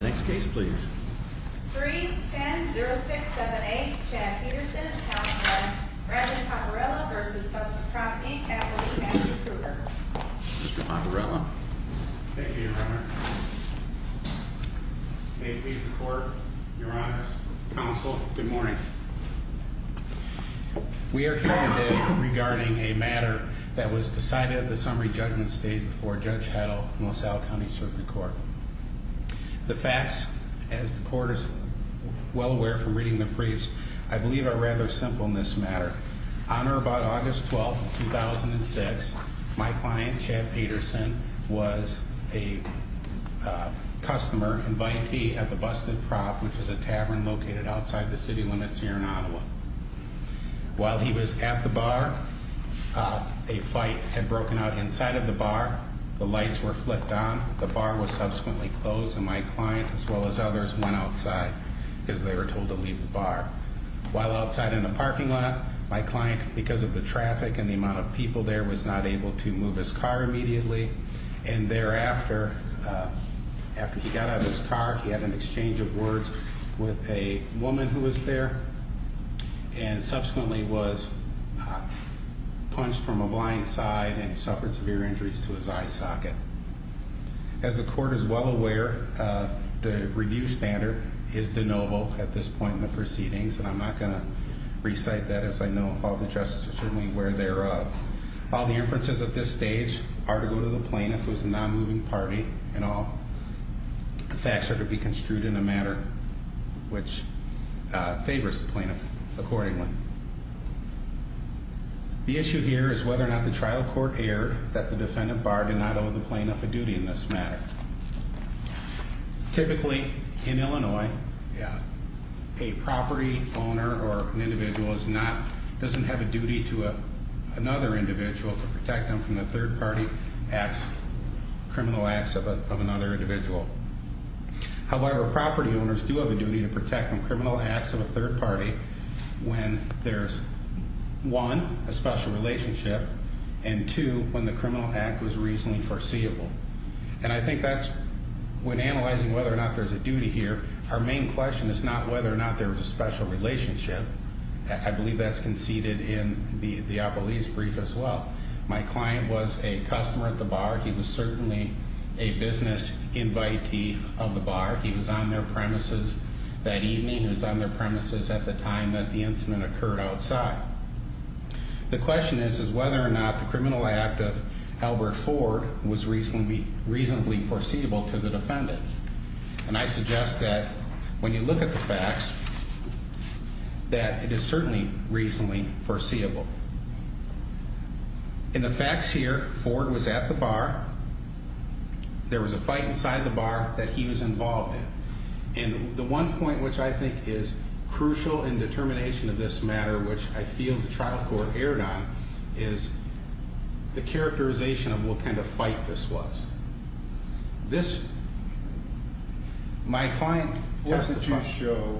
Next case, please. 3 10 0678 Chad Peterson, Reverend Paparella v. Busted Prop, Inc. Mr. Paparella. Thank you, Your Honor. May it please the Court, Your Honors, Counsel, good morning. We are here today regarding a matter that was decided at the summary judgment stage before Judge Heddle, Mo Sal County Circuit Court. The facts, as the Court is well aware from reading the briefs, I believe are rather simple in this matter. On or about August 12, 2006, my client, Chad Peterson, was a customer, invitee, at the Busted Prop, which is a tavern located outside the city limits here in Ottawa. While he was at the bar, a fight had broken out inside of the bar, the lights were flipped on, the bar was subsequently closed, and my client, as well as others, went outside, because they were told to leave the bar. While outside in the parking lot, my client, because of the traffic and the amount of people there, was not able to move his car immediately, and thereafter, after he got out of his car, he had an exchange of words with a woman who was there, and subsequently was punched from a blind side, and he suffered severe injuries to his eye socket. As the Court is well aware, the review standard is de novo at this point in the proceedings, and I'm not going to recite that, as I know all the justices are certainly aware thereof. All the inferences at this stage are to go to the plaintiff, who is the non-moving party, and all the facts are to be construed in a manner which favors the plaintiff accordingly. The issue here is whether or not the trial court erred that the defendant barred and not owe the plaintiff a duty in this matter. Typically, in Illinois, a property owner or an individual doesn't have a duty to another individual to protect them from the third-party criminal acts of another individual. However, property owners do have a duty to protect from criminal acts of a third party when there's, one, a special relationship, and, two, when the criminal act was reasonably foreseeable. And I think that's, when analyzing whether or not there's a duty here, our main question is not whether or not there was a special relationship. I believe that's conceded in the Appellee's brief as well. My client was a customer at the bar. He was certainly a business invitee of the bar. He was on their premises that evening. He was on their premises at the time that the incident occurred outside. The question is, is whether or not the criminal act of Albert Ford was reasonably foreseeable to the defendant. And I suggest that when you look at the facts, that it is certainly reasonably foreseeable. In the facts here, Ford was at the bar. There was a fight inside the bar that he was involved in. And the one point which I think is crucial in determination of this matter, which I feel the trial court erred on, is the characterization of what kind of fight this was. What did you show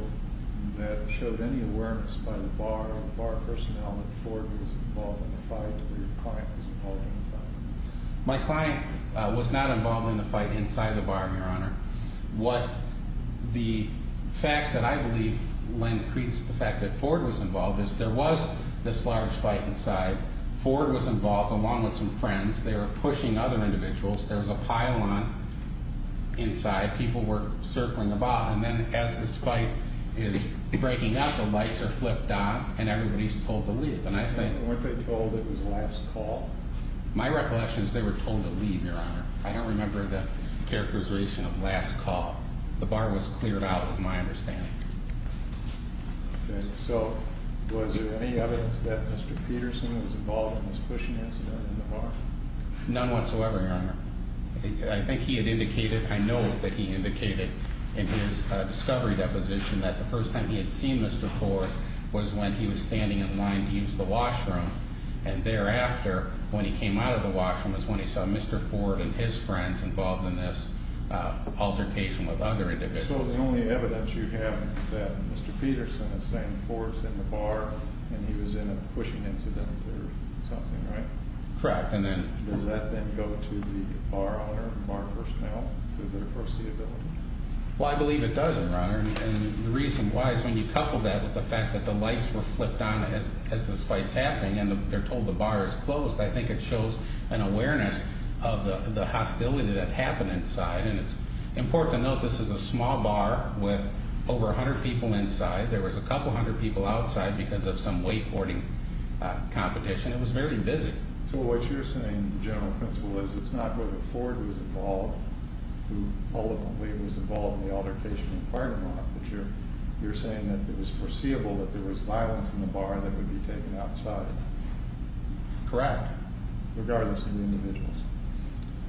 that showed any awareness by the bar or the bar personnel that Ford was involved in the fight or your client was involved in the fight? My client was not involved in the fight inside the bar, Your Honor. The facts that I believe lend credence to the fact that Ford was involved is there was this large fight inside. Ford was involved along with some friends. They were pushing other individuals. There was a pylon inside. People were circling about. And then as this fight is breaking up, the lights are flipped on and everybody's told to leave. And what they told was the last call. My recollection is they were told to leave, Your Honor. I don't remember the characterization of last call. The bar was cleared out is my understanding. So was there any evidence that Mr. Peterson was involved in this pushing incident in the bar? None whatsoever, Your Honor. I think he had indicated, I know that he indicated in his discovery deposition that the first time he had seen Mr. Ford was when he was standing in line to use the washroom. And thereafter, when he came out of the washroom is when he saw Mr. Ford and his friends involved in this altercation with other individuals. So the only evidence you have is that Mr. Peterson is saying Ford's in the bar and he was in a pushing incident or something, right? Correct. Does that then go to the bar owner and bar personnel? Well, I believe it doesn't, Your Honor. And the reason why is when you couple that with the fact that the lights were flipped on as this fight's happening and they're told the bar is closed, I think it shows an awareness of the hostility that happened inside and it's important to note this is a small bar with over 100 people inside. There was a couple hundred people outside because of some wakeboarding competition. It was very busy. So what you're saying, the general principle is it's not with the Ford who's involved who eloquently was involved in the altercation with partner Mark but you're saying that it was foreseeable that there was violence in the bar that would be taken outside. Correct. Regardless of the individuals?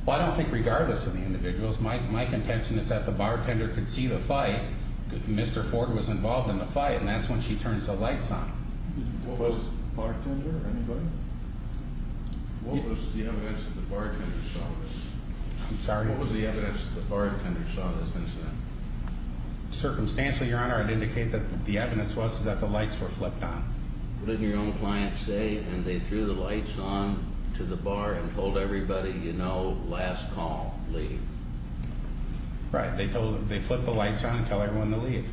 Well, I don't think regardless of the individuals. My contention is that the bartender could see the fight. Mr. Ford was involved in the fight and that's when she turns the lights on. What was bartender? Anybody? What was the evidence that the bartender saw this? I'm sorry? What was the evidence that the bartender saw this incident? Circumstantially, Your Honor, I'd indicate that the evidence was that the lights were flipped on. But didn't your own client say and they threw the lights on to the bar and told everybody, you know, last call, leave. Right. They flip the lights on and tell everyone to leave.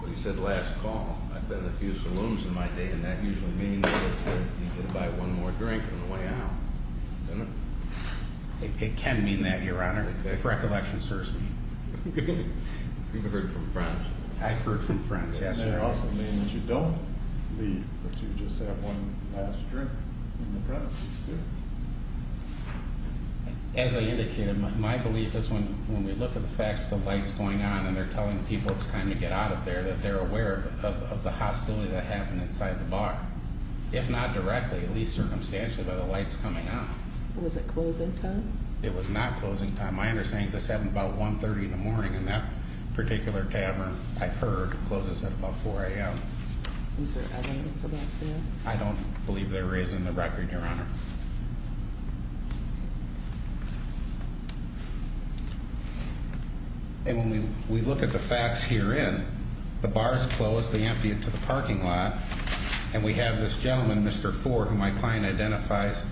But he said last call. I've been to a few saloons in my day and that usually means that you get to buy one more drink on the way out. It can mean that, Your Honor. If recollection serves me. You've heard from friends. I've heard from friends. It also means you don't leave but you just have one last drink in the process. As I indicated, my belief is when we look at the facts, the lights going on and they're telling people it's time to get out of there that they're aware of the hostility that happened inside the bar. If not directly, at least circumstantially by the lights coming on. Was it closing time? It was not closing time. My understanding is this happened about 1.30 in the morning and that particular tavern I've heard closes at about 4 a.m. Is there evidence of that? I don't believe there is in the record. Your Honor. And when we look at the facts herein, the bar is closed, they emptied it to the parking lot and we have this gentleman, Mr. Ford, who my client identifies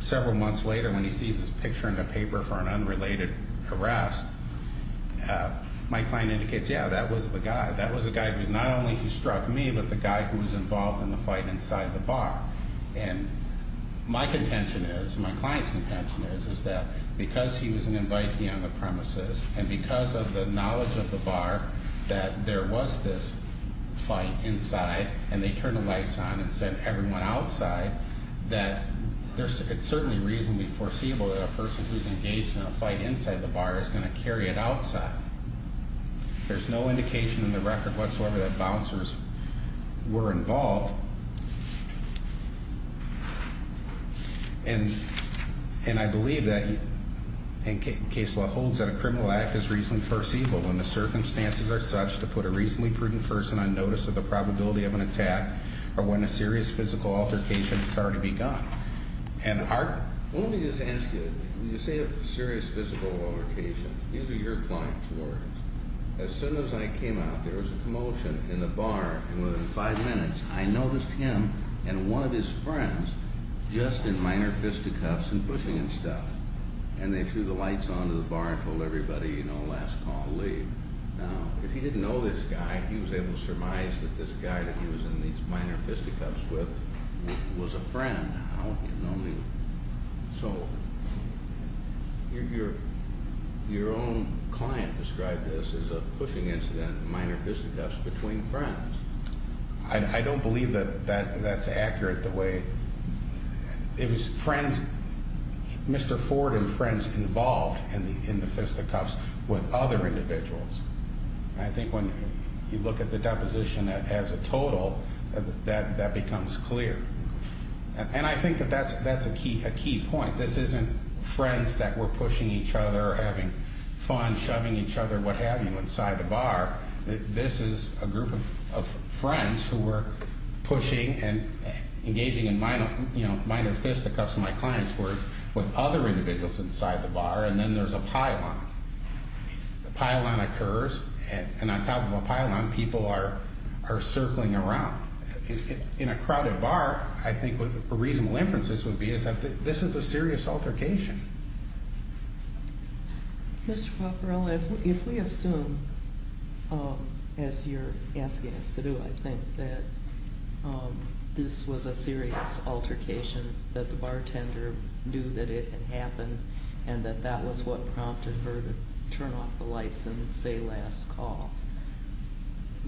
several months later when he sees this picture in the paper for an unrelated harass. My client indicates, yeah, that was the guy. That was the guy who not only struck me but the guy who was involved in the fight inside the bar. My client's contention is that because he was an invitee on the premises and because of the knowledge of the bar that there was this fight inside and they turned the lights on and sent everyone outside that it's certainly reasonably foreseeable that a person who's engaged in a fight inside the bar is going to carry it outside. There's no indication in the record whatsoever that bouncers were involved. And I believe that Case Law holds that a criminal act is reasonably foreseeable when the circumstances are such to put a reasonably prudent person on notice of the probability of an attack or when a serious physical altercation has already begun. Let me just ask you, when you say a serious physical altercation, these are your client's words. As soon as I came out, there was a commotion in the bar and within five minutes I noticed him and one of his friends just in minor fisticuffs and bushing and stuff and they threw the lights on to the bar and told everybody, you know, last call, leave. Now, if he didn't know this guy, he was able to surmise that this guy that he was in these minor fisticuffs with was a friend. So, your own client described this as a bushing incident in minor fisticuffs between friends. I don't believe that that's accurate the way it was friends, Mr. Ford and friends involved in the fisticuffs with other individuals. I think when you look at the deposition as a total, that becomes clear. And I think that that's a key point. This isn't friends that were pushing each other, having fun, shoving each other, what have you inside the bar. This is a group of friends who were pushing and engaging in minor fisticuffs, in my client's words, with other individuals inside the bar and then there's a pylon. The pylon occurs and on top of a pylon, people are circling around. In a crowded bar, I think what a reasonable inference would be is that this is a serious altercation. Mr. Paparella, if we assume, as you're asking us to do, I think that this was a serious altercation that the bartender knew that it had happened and that that was what prompted her to turn off the lights and say last call,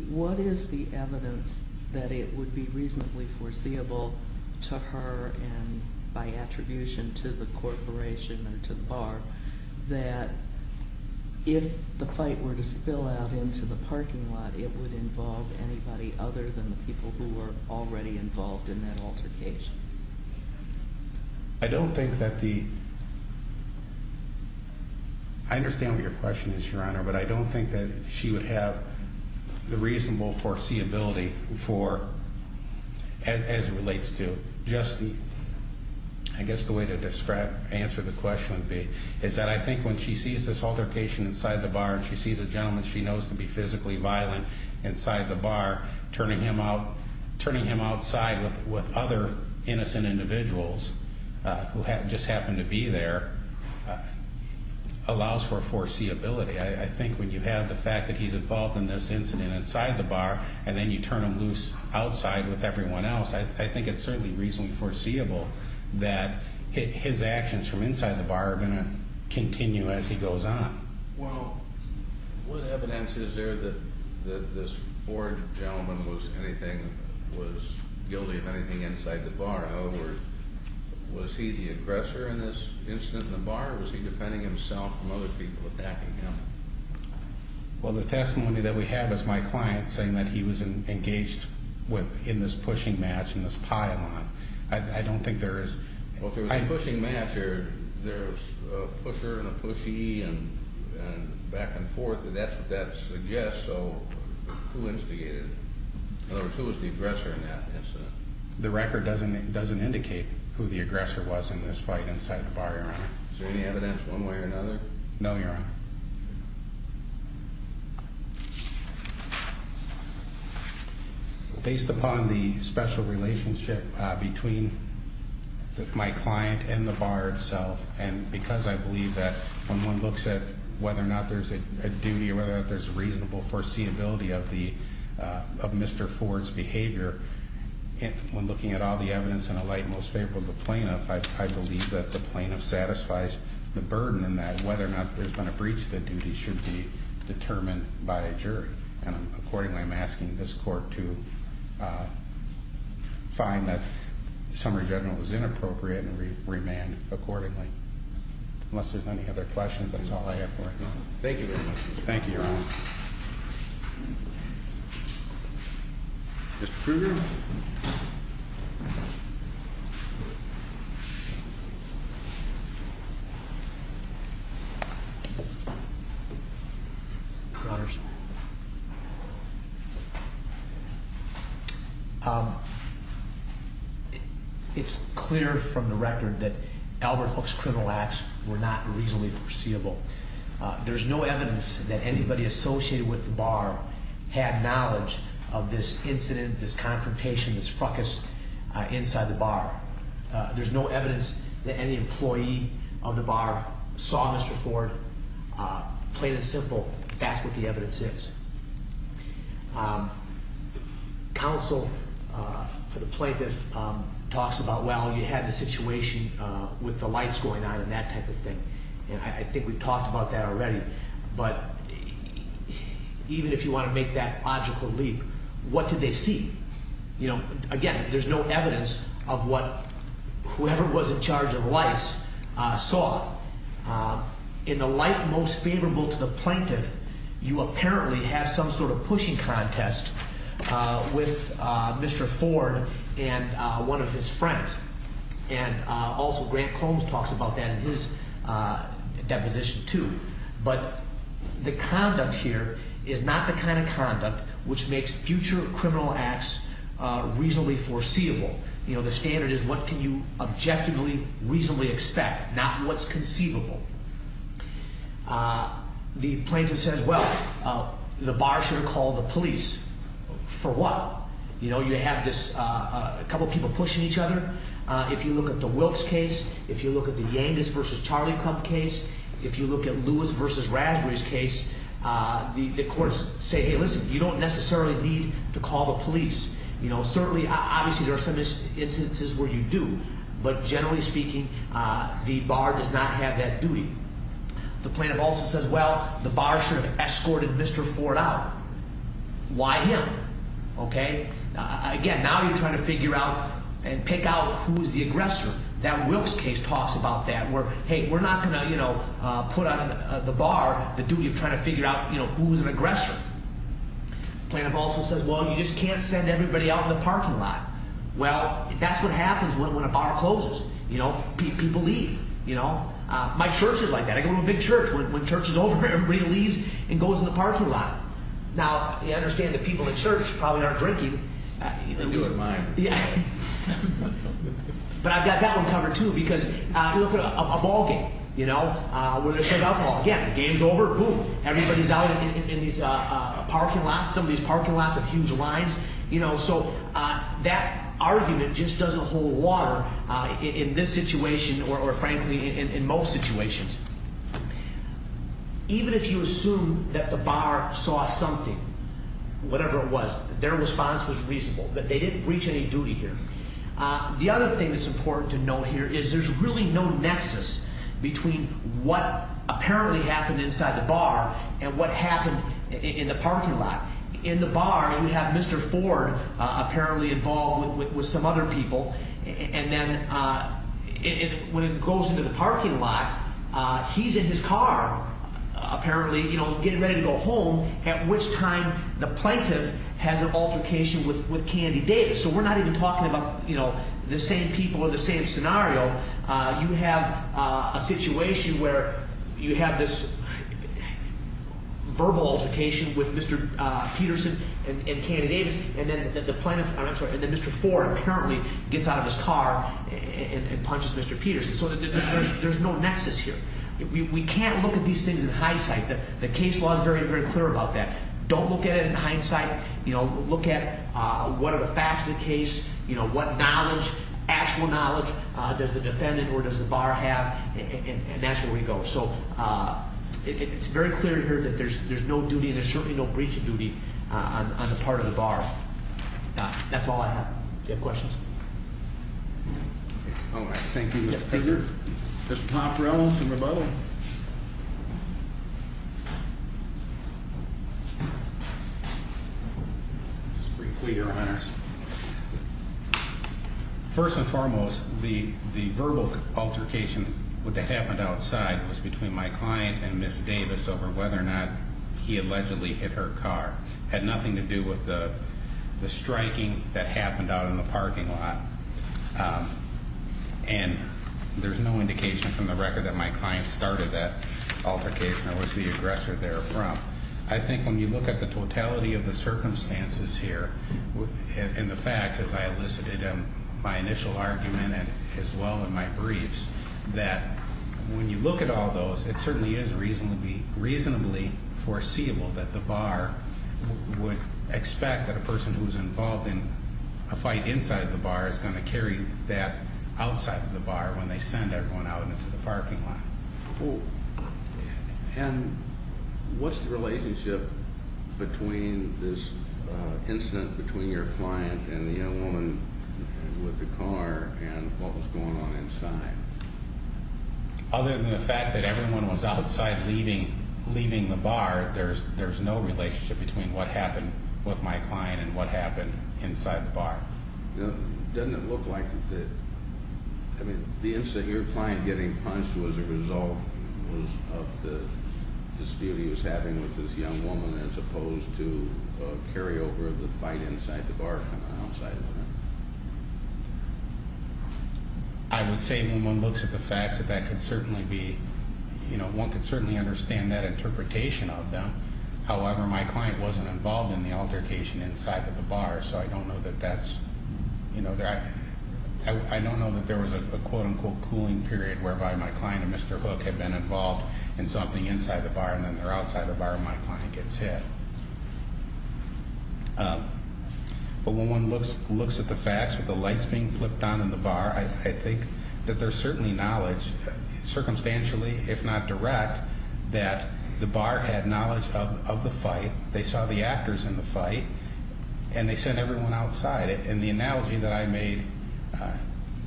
what is the evidence that it would be reasonably foreseeable to her and by attribution to the corporation or to the bar that if the fight were to spill out into the parking lot, it would involve anybody other than the people who were already involved in that altercation? I don't think that the... I understand what your question is, Your Honor, but I don't think that she would have the reasonable foreseeability for, as it relates to, I guess the way to answer the question would be is that I think when she sees this altercation inside the bar and she sees a gentleman she knows to be physically violent inside the bar, turning him outside with other innocent individuals who just happened to be there allows for foreseeability. I think when you have the fact that he's involved in this incident inside the bar and then you turn him loose outside with everyone else, I think it's certainly reasonably foreseeable that his actions from inside the bar are going to continue as he goes on. Well, what evidence is there that this poor gentleman was guilty of anything inside the bar? In other words, was he the aggressor in this incident in the bar or was he Well, the testimony that we have is my client saying that he was engaged in this pushing match, in this pile-on. I don't think there is... Well, if there was a pushing match, there's a pusher and a pushy and back and forth, but that's what that suggests, so who instigated it? In other words, who was the aggressor in that incident? The record doesn't indicate who the aggressor was in this fight inside the bar, Your Honor. Is there any evidence one way or another? No, Your Honor. Based upon the special relationship between my client and the bar itself, and because I believe that when one looks at whether or not there's a duty or whether or not there's reasonable foreseeability of the... of Mr. Ford's behavior, when looking at all the evidence in a light most favorable to the plaintiff, I believe that the plaintiff satisfies the burden and that whether or not there's been a breach of the duty should be determined by a jury. Accordingly, I'm asking this court to find that the summary general was inappropriate and remand accordingly. Unless there's any other questions, that's all I have for you. Thank you very much. Thank you, Your Honor. Mr. Kruger? Your Honor, it's clear from the record that Albert Hook's criminal acts were not reasonably foreseeable. There's no evidence that anybody associated with the bar had knowledge of this incident, this confrontation, this frucus inside the bar. There's no evidence that any employee of the bar saw Mr. Ford. Plain and simple, that's what the evidence is. Counsel for the plaintiff talks about, well, you had the situation with the lights going on and that type of thing. I think we've talked about that already. But even if you want to make that logical leap, what did they see? Again, there's no evidence of what whoever was in charge of lights saw. In the light most favorable to the plaintiff, you apparently have some sort of pushing contest with Mr. Ford and one of his friends. Also, Grant Combs talks about that in his deposition, too. The conduct here is not the kind of conduct which makes future criminal acts reasonably foreseeable. The standard is what can you objectively reasonably expect, not what's conceivable. The plaintiff says, well, the bar should call the police. For what? You have this couple of people pushing each other. If you look at the Wilkes case, if you look at the Yangas v. Charlie Club case, if you look at Lewis v. Raspberry's case, the bar does not necessarily need to call the police. Certainly, obviously, there are some instances where you do, but generally speaking, the bar does not have that duty. The plaintiff also says, well, the bar should have escorted Mr. Ford out. Why him? Again, now you're trying to figure out and pick out who's the aggressor. That Wilkes case talks about that, where, hey, we're not going to put on the bar the duty of trying to figure out who's an aggressor. The plaintiff also says, well, you just can't send everybody out in the parking lot. Well, that's what happens when a bar closes. People leave. My church is like that. I go to a big church. When church is over, everybody leaves and goes in the parking lot. Now, you understand that people at church probably aren't drinking. But I've got that one covered, too, because if you look at a ball game, where they serve alcohol, again, the game's over, boom, everybody's out in some of these parking lots of huge lines. That argument just doesn't hold water in this situation or, frankly, in most situations. Even if you assume that the bar saw something, whatever it was, their response was reasonable, that they didn't reach any duty here. The other thing that's important to note here is there's really no nexus between what apparently happened inside the bar and what happened in the parking lot. In the bar, you have Mr. Ford apparently involved with some other people, and then when it goes into the parking lot, he's in his car, apparently, getting ready to go home, at which time the plaintiff has an altercation with Candy Davis. We're not even talking about the same people or the same scenario. You have a situation where you have this verbal altercation with Mr. Peterson and Candy Davis, and then Mr. Ford apparently gets out of his car and punches Mr. Peterson. There's no nexus here. We can't look at these things in hindsight. The case law is very, very clear about that. Don't look at it in hindsight. Look at what are the facts of the case, what knowledge, actual knowledge, does the defendant or does the bar have, and that's where we go. It's very clear here that there's no duty, and there's certainly no breach of duty on the part of the bar. That's all I have. Do you have questions? Thank you, Mr. Peterson. Mr. Popper, I want some rebuttal. Just briefly, Your Honors. First and foremost, the verbal altercation that happened outside was between my client and Ms. Davis over whether or not he allegedly hit her car. It had nothing to do with the striking that happened out in the parking lot. And there's no indication from the record that my client started that altercation or was the aggressor there from. I think when you look at the totality of the circumstances here, and the initial argument as well in my briefs, that when you look at all those, it certainly is reasonably foreseeable that the bar would expect that a person who's involved in a fight inside the bar is going to carry that outside of the bar when they send everyone out into the parking lot. What's the relationship between this incident between your client and the young woman with the car and what was going on inside? Other than the fact that everyone was outside leaving the bar, there's no relationship between what happened with my client and what happened inside the bar. Doesn't it look like that your client getting punched was a result of the dispute he was having with this young woman as opposed to a carryover of the fight inside the bar and outside of the bar? I would say when one looks at the facts that that could certainly be, you know, one could certainly understand that interpretation of them. However, my client wasn't involved in the altercation inside of the bar so I don't know that that's, you know, I don't know that there was a quote-unquote cooling period whereby my client and Mr. Hook had been involved in something inside the bar and then they're outside the bar and my client gets hit. But when one looks at the facts with the lights being flipped on in the bar, I think that there's certainly knowledge, circumstantially if not direct, that the bar had knowledge of the fight, they saw the actors in the fight, and they sent everyone outside. And the analogy that I made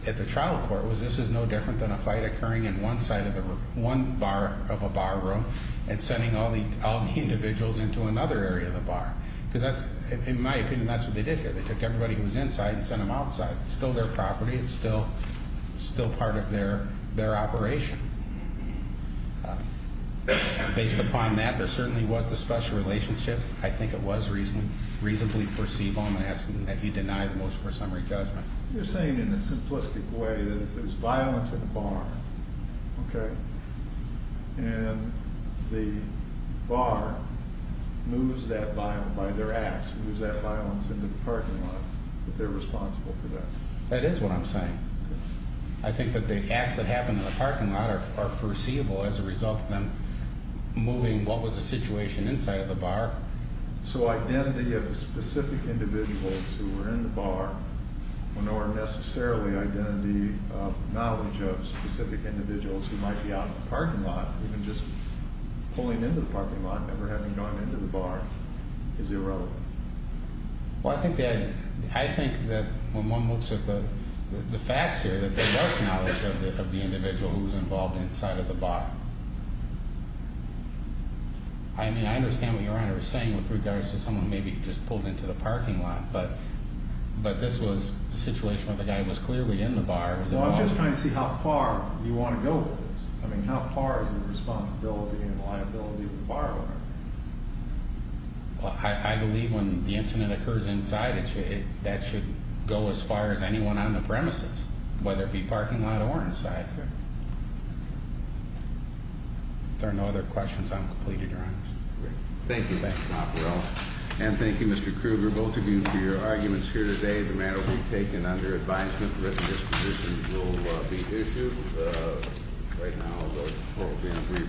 at the trial court was this is no different than a fight occurring in one side of the room, one bar of a bar room, and sending all the individuals into another area of the bar. Because that's, in my opinion, that's what they did here. They took everybody who was inside and sent them outside. It's still their property, it's still part of their operation. Based upon that, there certainly was a special relationship. I think it was reasonably perceivable, I'm asking that you deny the motion for summary judgment. You're saying in a simplistic way that if there's violence at the bar, okay, and the bar moves that by their acts, moves that violence into the parking lot, that they're responsible for that. That is what I'm saying. I think that the acts that happened in the parking lot are foreseeable as a result of them moving what was the situation inside of the bar. So identity of specific individuals who were in the bar, nor necessarily identity of knowledge of specific individuals who might be out in the parking lot, even just pulling into the parking lot never having gone into the bar is irrelevant. Well, I think that when one looks at the facts here, that there was knowledge of the individual who was involved inside of the bar. I mean, I understand what Your Honor is saying with regards to someone maybe just pulled into the parking lot, but this was a situation where the guy was clearly in the bar. Well, I'm just trying to see how far you want to go with this. I mean, how far is the responsibility and liability of the bar owner? Well, I believe when the incident occurs inside, that should go as far as anyone on the premises, whether it be parking lot or inside. If there are no other questions, I'm completed, Your Honor. Thank you. Thank you. And thank you, Mr. Krueger, both of you, for your arguments here today. The matter will be taken under advisement. Written disposition will be issued right now.